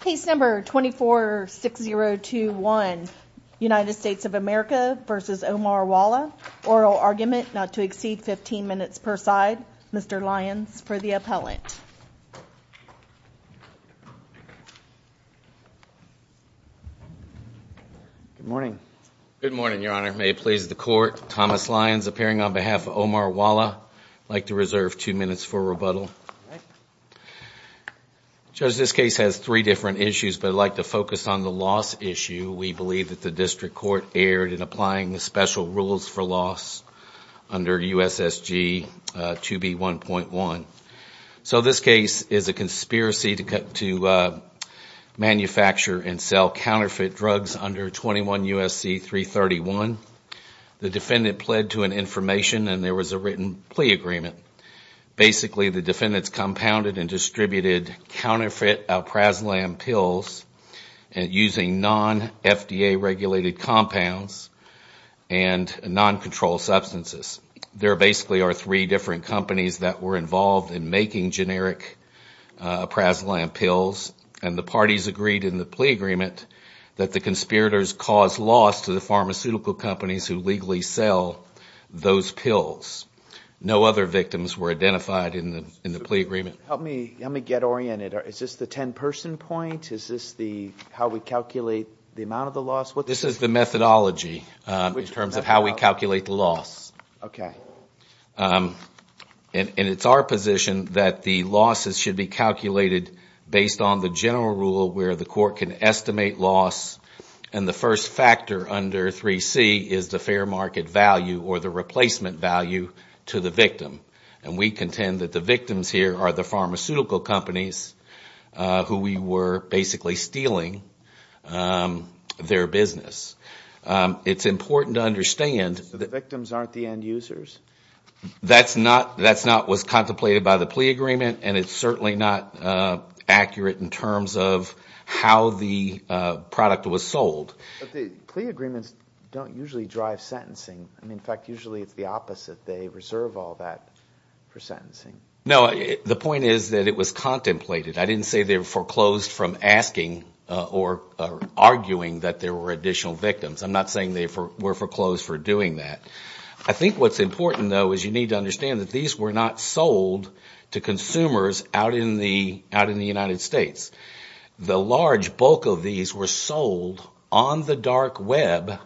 case number 246021 United States of America versus Omar Wala oral argument not to exceed 15 minutes per side Mr. Lyons for the appellant good morning good morning your honor may it please the court Thomas Lyons appearing on behalf of Omar Wala like to reserve two minutes for rebuttal judge this case has three different issues but I'd like to focus on the loss issue we believe that the district court erred in applying the special rules for loss under USSG 2b 1.1 so this case is a conspiracy to cut to manufacture and sell counterfeit drugs under 21 USC 331 the defendant pled to an information and there was a written plea agreement basically the defendants compounded and distributed counterfeit praslam pills and using non-fda regulated compounds and non-controlled substances there basically are three different companies that were involved in making generic praslam pills and the parties agreed in the plea agreement that the conspirators cause loss to the pharmaceutical companies who legally sell those pills no other victims were identified in the in the plea agreement help me let me get oriented or is this the 10 person point is this the how we calculate the amount of the loss what this is the methodology in terms of how we calculate the loss okay and it's our position that the losses should be calculated based on the general rule where the court can estimate loss and the first factor under 3c is the fair market value or the replacement value to the victim and we contend that the victims here are the pharmaceutical companies who we were basically stealing their business it's important to understand that victims aren't the end-users that's not that's not was contemplated by the plea agreement and it's certainly not accurate in terms of how the product was sold agreements don't usually drive sentencing I mean in fact usually it's the opposite they reserve all that for sentencing no the point is that it was contemplated I didn't say they're foreclosed from asking or arguing that there were additional victims I'm not saying they were foreclosed for doing that I think what's important though is you need to understand that these were not sold to consumers out in the out in the United States the large bulk of these were sold on the dark web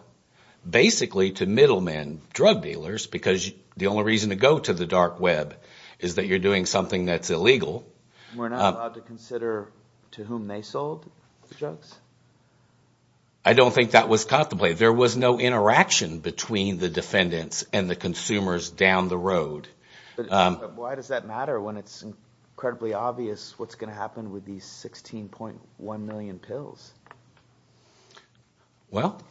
basically to middlemen drug dealers because the only reason to go to the dark web is that you're doing something that's illegal to whom they sold I don't think that was contemplated there was no interaction between the defendants and the consumers down the road why does that matter when it's incredibly obvious what's going to happen with these 16.1 million pills well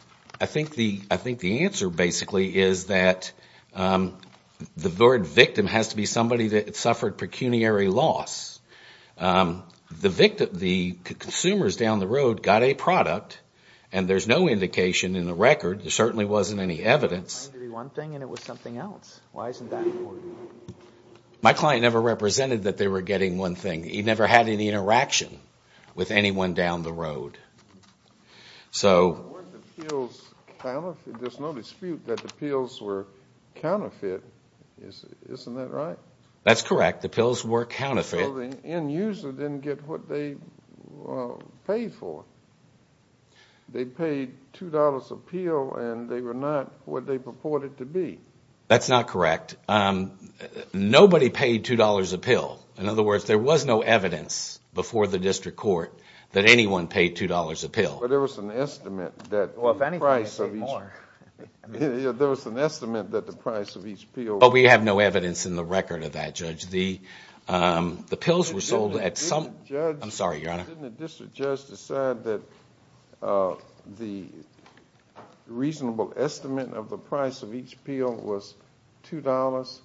I think the I think the answer basically is that the word victim has to be somebody that it suffered pecuniary loss the victim the consumers down the road got a product and there's no indication in the record there certainly wasn't any evidence one thing and it was something else why isn't that my client never represented that they were getting one thing he never had any interaction with anyone down the road so there's no dispute that the pills were counterfeit isn't that right that's correct the pills were counterfeiting in user didn't get what they paid for they paid two dollars appeal and they were not what they purported to be that's not correct nobody paid two dollars a pill in other words there was no evidence before the district court that anyone paid two dollars a pill but there was an estimate that price of each more there was an estimate that the price of each pill but we have no evidence in the record of that judge the the pills were sold at some I'm sorry your honor just decide that the reasonable estimate of the price of each appeal was $2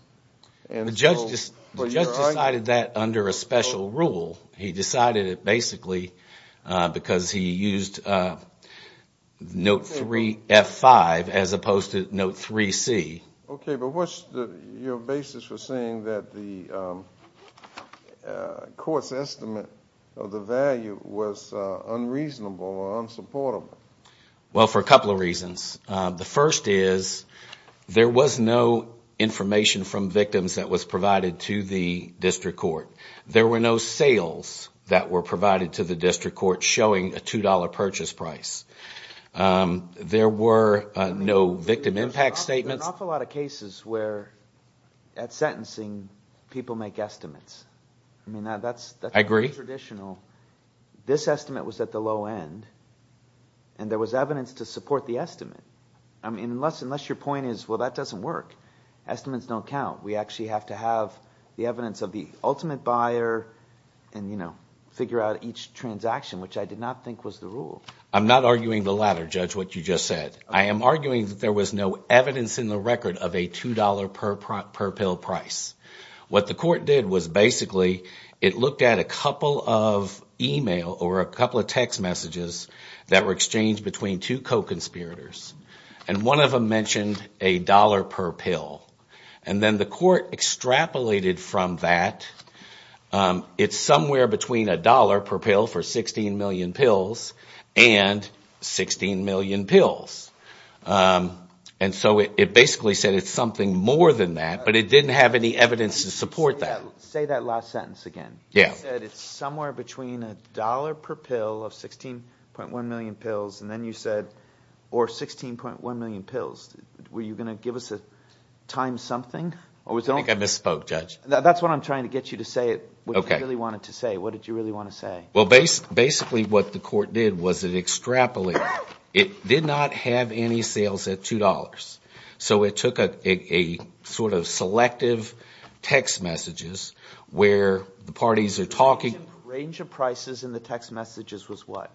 and the judge just decided that under a special rule he decided it basically because he used note 3 f5 as opposed to note 3 C okay but what's the basis for saying that the court's estimate of the value was unreasonable or unsupportable well for a couple of reasons the first is there was no information from victims that was provided to the district court there were no sales that were provided to the district court showing a $2 purchase price there were no victim impact statements a lot of cases where at sentencing people make estimates I mean that's I agree traditional this estimate was at the low end and there was evidence to support the estimate I mean unless unless your point is well that doesn't work estimates don't count we actually have to have the evidence of the ultimate buyer and you know figure out each transaction which I did not think was the rule I'm not arguing the latter judge what you just said I am arguing that there was no evidence in the record of a $2 per pill price what the court did was basically it looked at a couple of email or a couple of text messages that were exchanged between two co-conspirators and one of them mentioned a dollar per pill and then the court extrapolated from that it's somewhere between a dollar per pill for 16 million pills and 16 million pills and so it basically said it's something more than that but it didn't have any evidence to support that say that last sentence again yeah it's somewhere between a dollar per pill of 16.1 million pills and then you said or 16.1 million pills were you going to give us a time something or was I misspoke judge that's what I'm trying to get you to say it okay really wanted to say what did you really want to say well based basically what the court did was it extrapolate it did not have any sales at $2 so it took a sort of selective text messages where the parties are talking range of prices in the text messages was what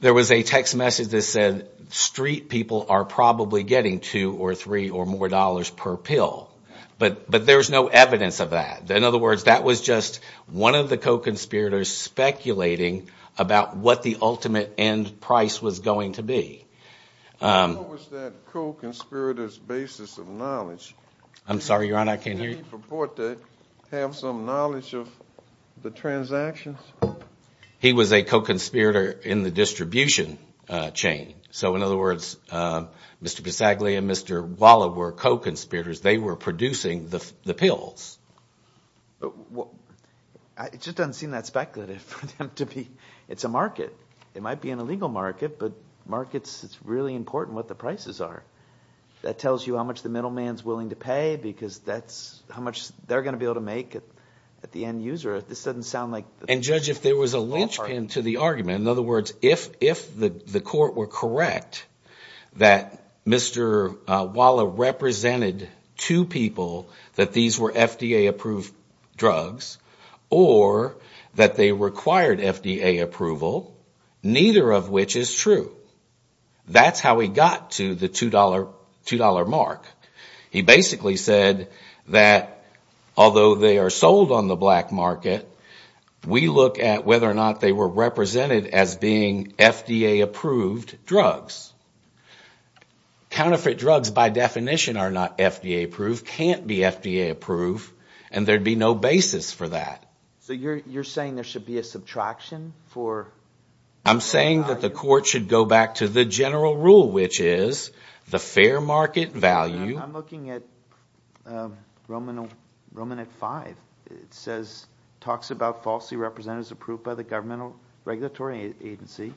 there was a text message that said street people are probably getting two or three or more dollars per pill but but there's no evidence of that in other words that was just one of the co-conspirators speculating about what the ultimate end price was going to be I'm sorry your honor I can't report that have some knowledge of the transactions he was a co-conspirator in the distribution chain so in other words mr. bisaglia mr. Waller were co-conspirators they were producing the pills it just doesn't seem that speculative for them to be it's a market it might be an illegal market but markets it's really important what the prices are that tells you how much the middleman's willing to pay because that's how much they're gonna be able to make it at the end user this doesn't sound like and judge if there was a linchpin to the argument in other words if if the court were correct that mr. Waller represented two people that these were FDA approved drugs or that they required FDA approval neither of which is true that's how we got to the two dollar two dollar mark he basically said that although they are sold on the black market we look at whether or not they were represented as being FDA approved drugs counterfeit drugs by definition are not FDA approved can't be FDA approved and there'd be no basis for that so you're you're saying there should be a subtraction for I'm saying that the court should go back to the general rule which is the fair market value looking at Roman Roman at five it says talks about falsely represented as approved by the governmental regulatory agency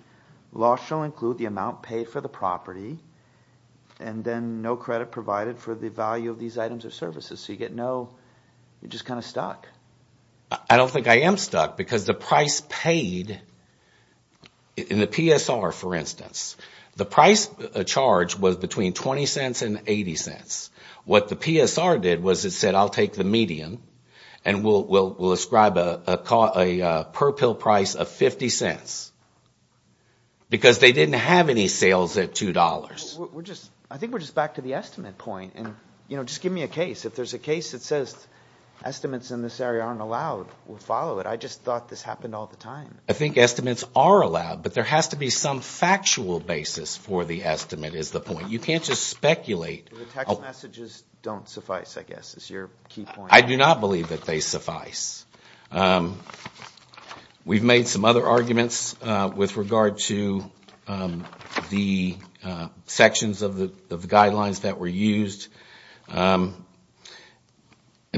law shall include the amount paid for the property and then no credit provided for the value of these items or services so you get no you're just kind of stuck I don't think I am stuck because the price paid in the PSR for instance the price a charge was between 20 cents and 80 cents what the PSR did was it said I'll take the medium and we'll we'll ascribe a caught a per pill price of 50 cents because they didn't have any sales at two dollars we're just I think we're just back to the estimate point and you know just give me a case if there's a case that says estimates in this area aren't allowed we'll follow it I just thought this happened all the time I think estimates are allowed but there has to be some factual basis for the estimate is the point you can't just don't suffice I guess it's your I do not believe that they suffice we've made some other arguments with regard to the sections of the guidelines that were used and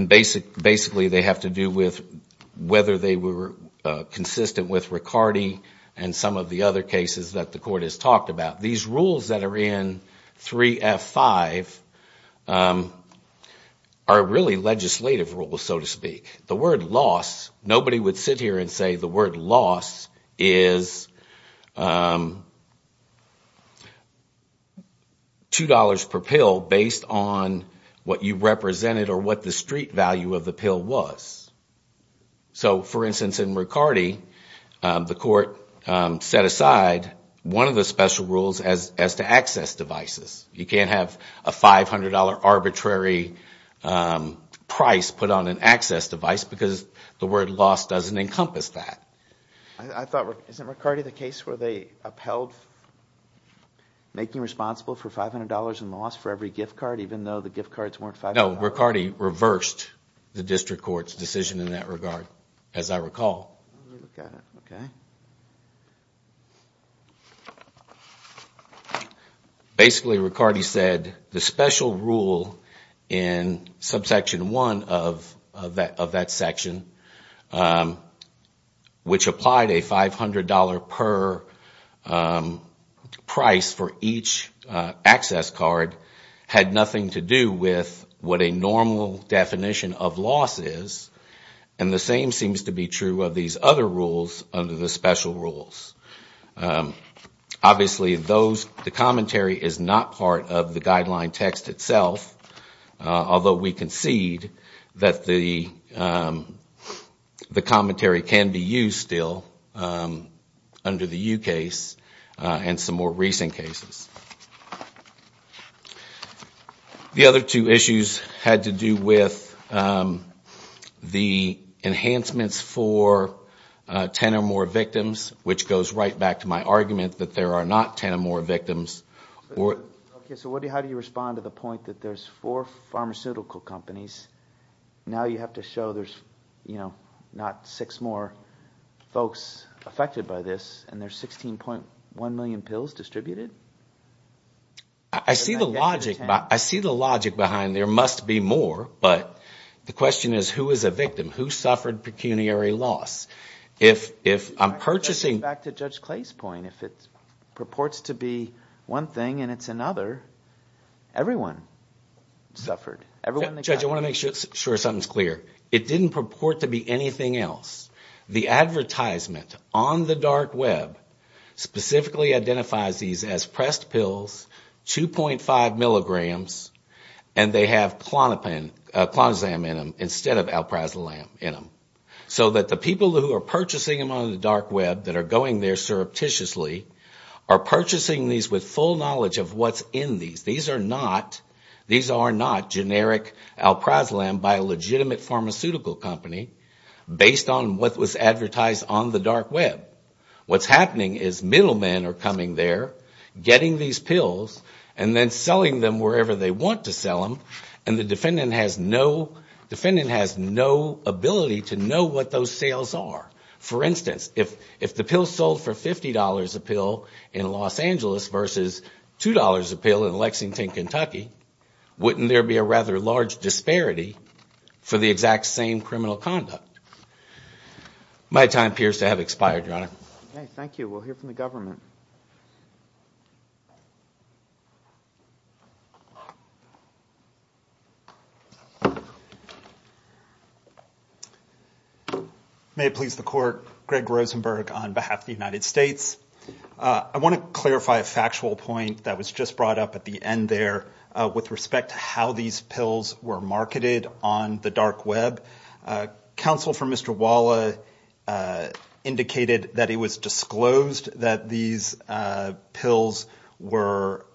basic basically they have to do with whether they were consistent with Riccardi and some of the other cases that the court has talked about these rules that are in 3f5 are really legislative rules so to speak the word loss nobody would sit here and say the word loss is two dollars per pill based on what you represented or what the street value of the pill was so for instance in Riccardi the court set aside one of the special rules as as to access devices you can't have a $500 arbitrary price put on an access device because the word loss doesn't encompass that I thought isn't Riccardi the case where they upheld making responsible for $500 in loss for every gift card even though the gift cards weren't five no Riccardi reversed the district courts decision in that regard as I recall basically Riccardi said the special rule in subsection one of that of that section which applied a $500 per price for each access card had nothing to do with what a normal definition of loss is and the same seems to be true of these other rules under the special rules obviously those the commentary is not part of the guideline text itself although we concede that the the commentary can be used still under the case and some more recent cases the other two issues had to do with the enhancements for 10 or more victims which goes right back to my argument that there are not 10 or more victims or how do you respond to the point that there's four pharmaceutical companies now you have to show there's you know not six more folks affected by this and there's 16.1 million pills distributed I see the logic I see the logic behind there must be more but the question is who is a victim who suffered pecuniary loss if if I'm purchasing back to judge Clay's point if it purports to be one thing and it's another everyone suffered everyone judge I want to make sure something's clear it didn't purport to be anything else the advertisement on the dark web specifically identifies these as pressed pills 2.5 milligrams and they have Klonopin Clonazam in them instead of Alprazolam in them so that the people who are purchasing them on the dark web that are going there surreptitiously are purchasing these with full knowledge of what's in these these are not these are not generic Alprazolam by a legitimate pharmaceutical company based on what was advertised on the dark web what's happening is middlemen are coming there getting these pills and then selling them wherever they want to sell them and the defendant has no defendant has no ability to know what those sales are for instance if if the pill sold for $50 a pill in Los Angeles versus $2 a pill in Lexington Kentucky wouldn't there be a rather large disparity for the exact same criminal conduct my time appears to have expired your honor thank you we'll hear from the government may it please the court Greg Rosenberg on behalf of the United States I want to with respect to how these pills were marketed on the dark web counsel for mr. Walla indicated that it was disclosed that these pills were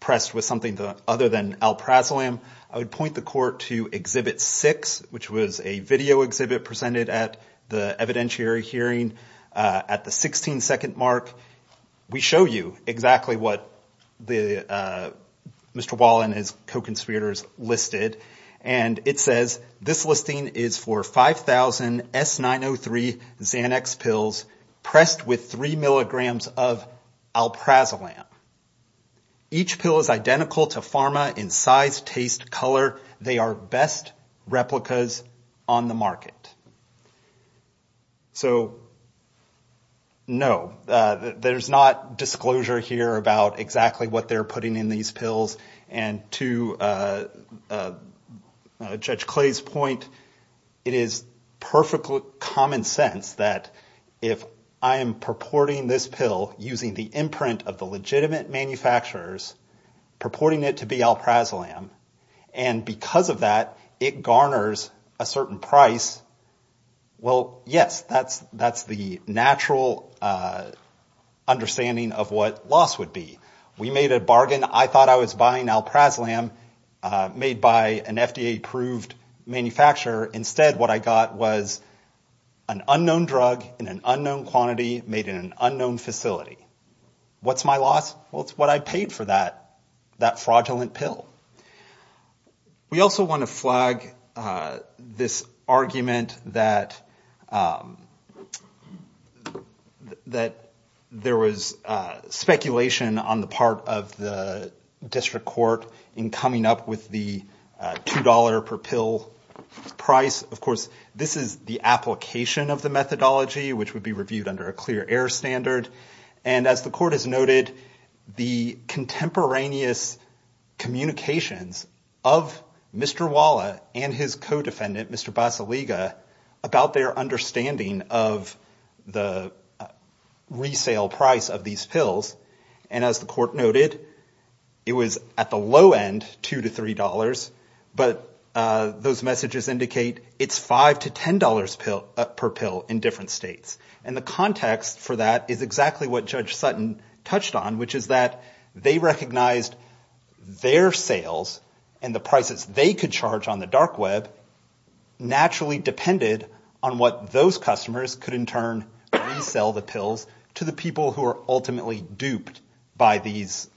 pressed with something other than Alprazolam I would point the court to exhibit six which was a video exhibit presented at the evidentiary hearing at the 16 second mark we show you exactly what the mr. Wall and his co-conspirators listed and it says this listing is for 5,000 s 903 Xanax pills pressed with three milligrams of Alprazolam each pill is identical to pharma in size taste color they are best replicas on the market so no there's not disclosure here about exactly what they're putting in these pills and to judge Clay's point it is perfectly common sense that if I am purporting this pill using the imprint of the legitimate manufacturers purporting it to be Alprazolam and because of that it garners a certain price well yes that's that's the natural understanding of what loss would be we made a bargain I thought I was buying Alprazolam made by an FDA-approved manufacturer instead what I got was an unknown drug in an unknown quantity made in an unknown facility what's my loss what's what I paid for that that fraudulent pill we also want to flag this argument that that there was speculation on the part of the district court in coming up with the dollar per pill price of course this is the application of the methodology which would be reviewed under a clear air standard and as the court has noted the contemporaneous communications of Mr. Walla and his co-defendant Mr. Baseliga about their understanding of the resale price of these pills and as the court noted it was at the low end two to three dollars but those messages indicate it's five to ten dollars pill per pill in different states and the context for that is exactly what judge Sutton touched on which is that they recognized their sales and the prices they could charge on the dark web naturally depended on what those customers could in turn sell the pills to the people who are ultimately duped by these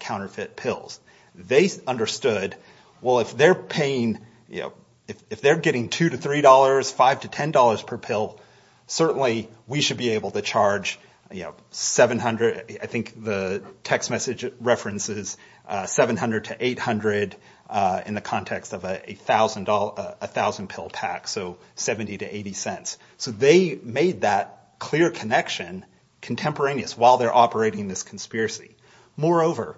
counterfeit pills they understood well if they're paying you know if they're getting two to three dollars five to ten dollars per pill certainly we should be able to charge you know 700 I think the text message references 700 to 800 in the context of a thousand dollar a thousand pill pack so 70 to 80 cents so they made that clear connection contemporaneous while they're operating this conspiracy moreover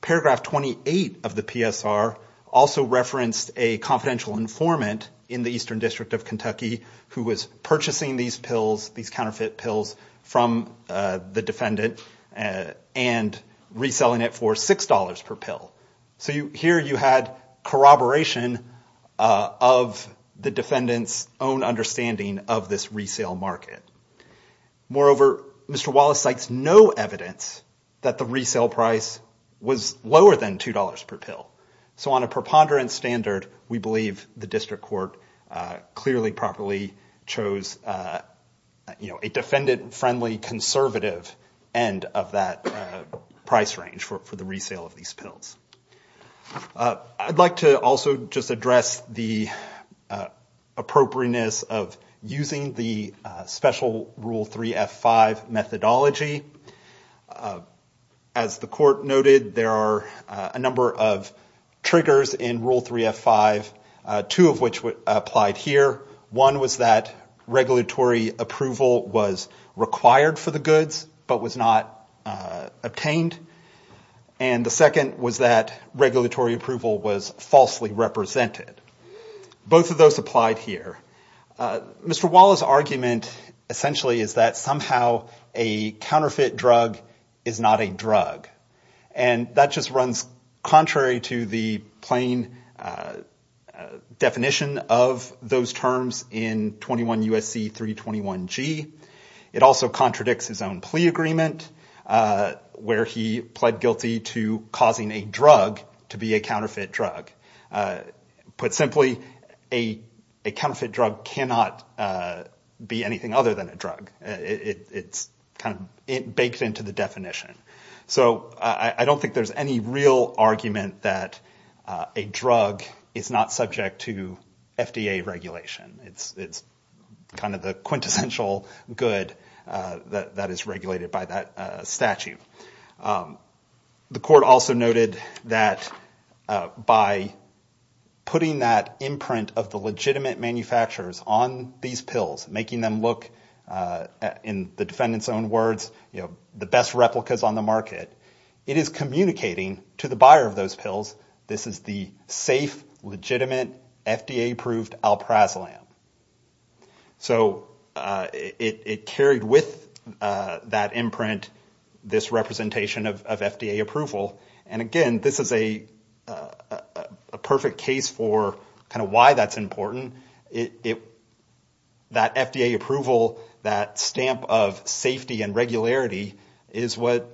paragraph 28 of the PSR also referenced a confidential informant in the Eastern District of Kentucky who was purchasing these pills these counterfeit pills from the defendant and reselling it for six dollars per pill so you here you had corroboration of the defendants own understanding of this resale market moreover mr. Wallace sites no evidence that the resale price was lower than two dollars per pill so on a preponderance standard we believe the district court clearly properly chose you know a defendant friendly conservative end of that price range for the resale of these of using the special rule 3 f5 methodology as the court noted there are a number of triggers in rule 3 f5 two of which would applied here one was that regulatory approval was required for the goods but was not obtained and the second was that regulatory approval was falsely represented both of those applied here mr. Wallace argument essentially is that somehow a counterfeit drug is not a drug and that just runs contrary to the plain definition of those terms in 21 USC 321 G it also contradicts his own plea agreement where he pled guilty to causing a drug to be a counterfeit drug put simply a a counterfeit drug cannot be anything other than a drug it's kind of it baked into the definition so I don't think there's any real argument that a drug is not subject to FDA regulation it's it's kind of the quintessential good that is regulated by that statute the court also noted that by putting that imprint of the legitimate manufacturers on these pills making them look in the defendants own words you know the best replicas on the market it is communicating to the buyer of those pills this is the safe legitimate FDA approved alprazolam so it carried with that imprint this representation of FDA approval and again this is a perfect case for kind of why that's important it that FDA approval that stamp of safety and regularity is what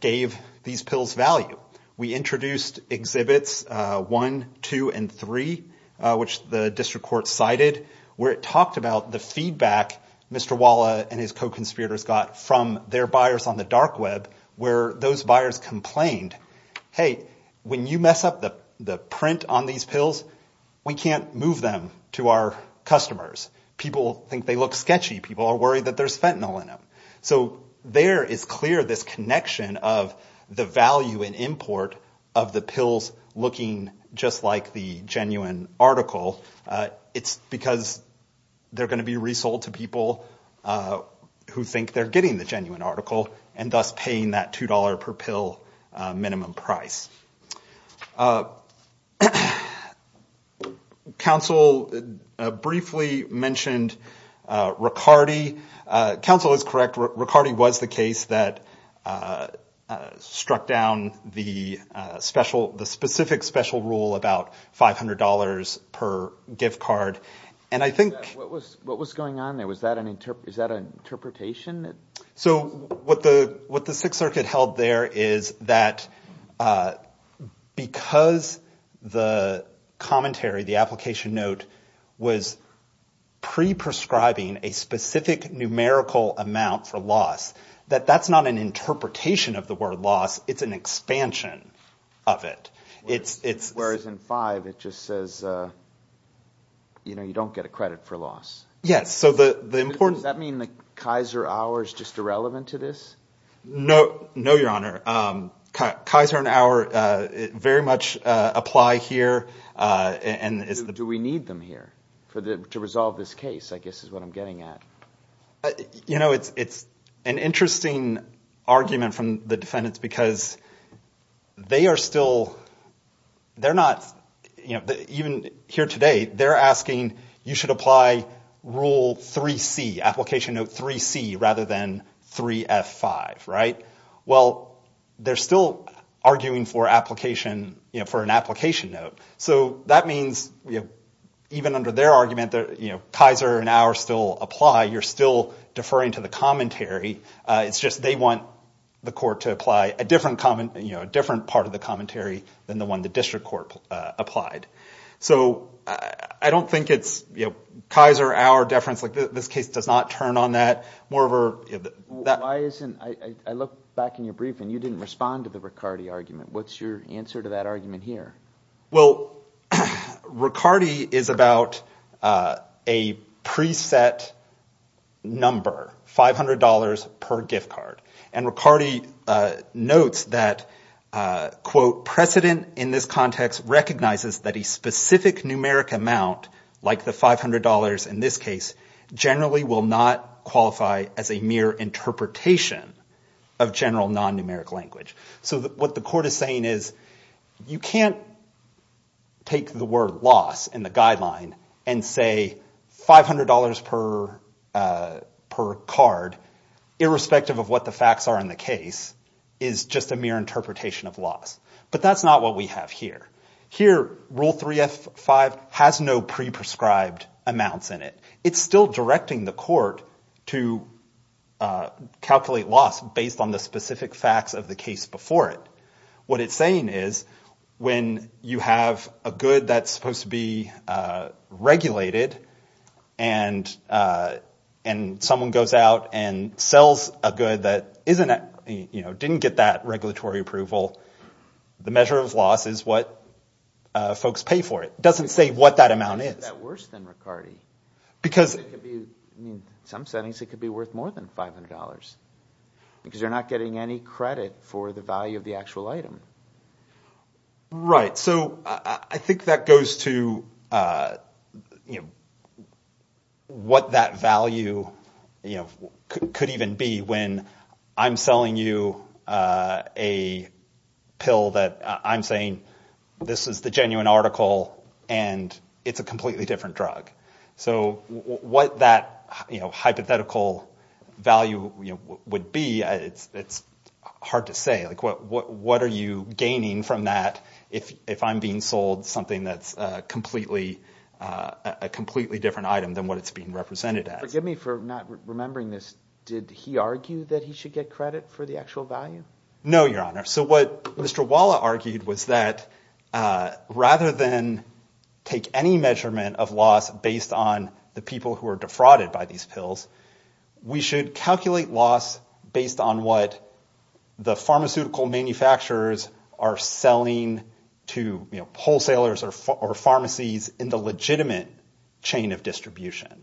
gave these pills value we introduced exhibits one two and three which the district court cited where it talked about the feedback mr. Walla and his co-conspirators got from their buyers on the dark web where those buyers complained hey when you mess up the the print on these pills we can't move them to our customers people think they look sketchy people are worried that there's fentanyl in them so there is clear this connection of the value and import of the pills looking just like the genuine article it's because they're going to be resold to people who think they're getting the genuine article and thus paying that $2 per pill minimum price council briefly mentioned Riccardi council is correct Riccardi was the case that struck down the special the specific special rule about $500 per gift card and I think what was going on there was that an interpretation so what the what the Sixth Circuit held there is that because the commentary the application note was pre prescribing a specific numerical amount for loss that that's not an interpretation of the word loss it's an expansion of it it's it's whereas in five it just says you know you don't get a credit for loss yes so the the importance that mean the Kaiser hours just irrelevant to this no no your honor Kaiser an hour very much apply here and is the do we need them here for the to resolve this case I guess is what I'm getting at you know it's it's an argument from the defendants because they are still they're not you know even here today they're asking you should apply rule 3c application of 3c rather than three at five right well they're still arguing for application for an application so that means even under their argument that you know Kaiser an hour still apply you're still deferring to the commentary it's just they want the court to apply a different common you know a different part of the commentary than the one the district court applied so I don't think it's you know Kaiser our difference like this case does not turn on that more of her that isn't I look back in your brief and you didn't respond to the Riccardi argument what's your answer to that argument here well Riccardi is about a preset number $500 per gift card and Riccardi notes that quote precedent in this context recognizes that a specific numeric amount like the $500 in this case generally will not qualify as a mere interpretation of general non numeric language so that what the court is saying is you can't take the word loss in the guideline and say $500 per per card irrespective of what the facts are in the case is just a mere interpretation of loss but that's not what we have here here rule 3f 5 has no pre prescribed amounts in it it's still directing the court to calculate loss based on the specific facts of the case before it what it's saying is when you have a good that's supposed to be regulated and and someone goes out and sells a good that isn't it you know didn't get that regulatory approval the measure of loss is what folks pay for it doesn't say what that amount is because some settings it could be worth more $500 because you're not getting any credit for the value of the actual item right so I think that goes to you know what that value you know could even be when I'm selling you a pill that I'm saying this is the genuine article and it's a completely different drug so what that you know hypothetical value would be it's it's hard to say like what what are you gaining from that if if I'm being sold something that's completely a completely different item than what it's being represented at forgive me for not remembering this did he argue that he should get credit for the actual value no your honor so what mr. Waller argued was that rather than take any measurement of loss based on the people who are defrauded by these pills we should calculate loss based on what the pharmaceutical manufacturers are selling to you know wholesalers or pharmacies in the legitimate chain of distribution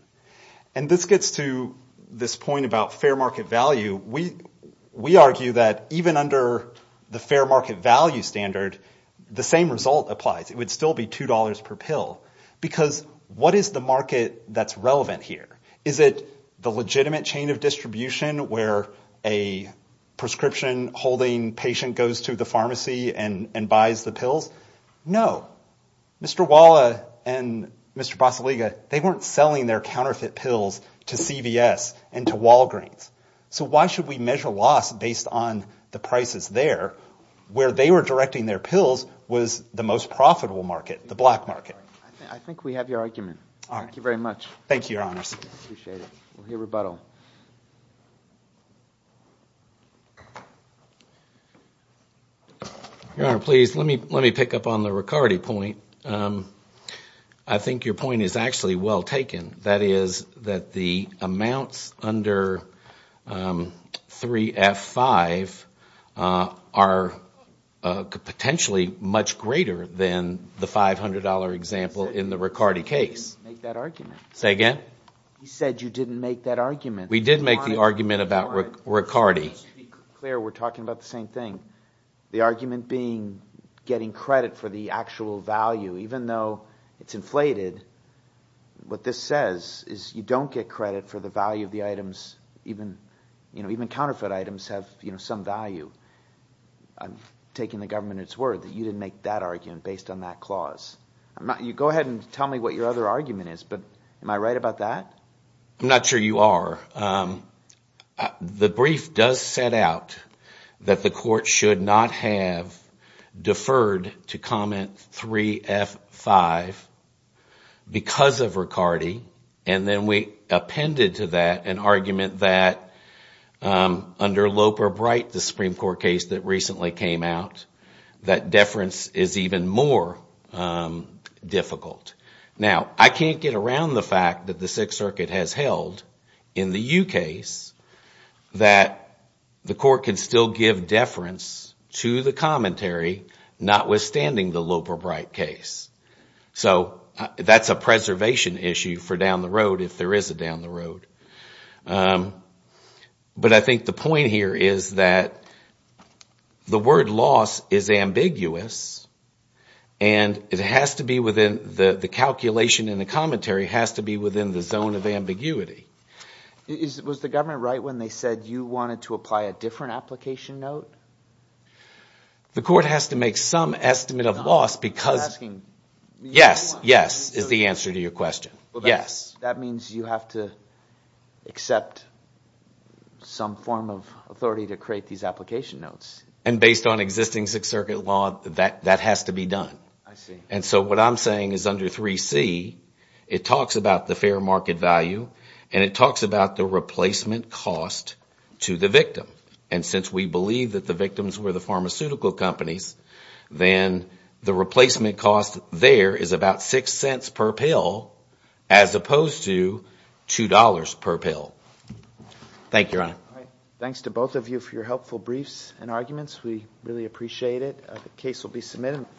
and this gets to this point about fair value we we argue that even under the fair market value standard the same result applies it would still be two dollars per pill because what is the market that's relevant here is it the legitimate chain of distribution where a prescription holding patient goes to the pharmacy and and buys the pills no mr. Waller and mr. boss Aliga they weren't selling their counterfeit pills to CVS and to Walgreens so why should we measure loss based on the prices there where they were directing their pills was the most profitable market the black market I think we have your argument all right thank you very much thank you your honors your rebuttal your honor please let me let me pick up on the Riccardi point I think your point is actually well taken that is that the amounts under 3f 5 are potentially much greater than the $500 example in the Riccardi case say again he said you didn't make that argument we did make the argument about Riccardi we're talking about the same thing the argument being getting credit for the actual value even though it's inflated what this says is you don't get credit for the value of the items even you know even counterfeit items have you know some value I'm taking the government its word that you didn't make that argument based on that clause I'm not you go ahead and tell me what your other argument is but am I right about that I'm not sure you are the brief does set out that the court should not have deferred to comment 3f 5 because of Riccardi and then we appended to that an argument that under Loper bright the Supreme Court case that recently came out that deference is even more difficult now I can't get around the fact that the Sixth Circuit has held in the UK's that the court can still give deference to the commentary notwithstanding the Loper bright case so that's a preservation issue for down the road if there is a down the road but I think the point here is that the word loss is ambiguous and it has to be within the the calculation in the commentary has to be within the zone of ambiguity is it was the government right when they said you wanted to apply a application note the court has to make some estimate of loss because yes yes is the answer to your question yes that means you have to accept some form of authority to create these application notes and based on existing Sixth Circuit law that that has to be done I see and so what I'm saying is under 3c it talks about the fair market value and it talks about the replacement cost to the victim and since we believe that the victims were the pharmaceutical companies then the replacement cost there is about six cents per pill as opposed to two dollars per pill thank your honor thanks to both of you for your helpful briefs and arguments we really appreciate it the case will be submitted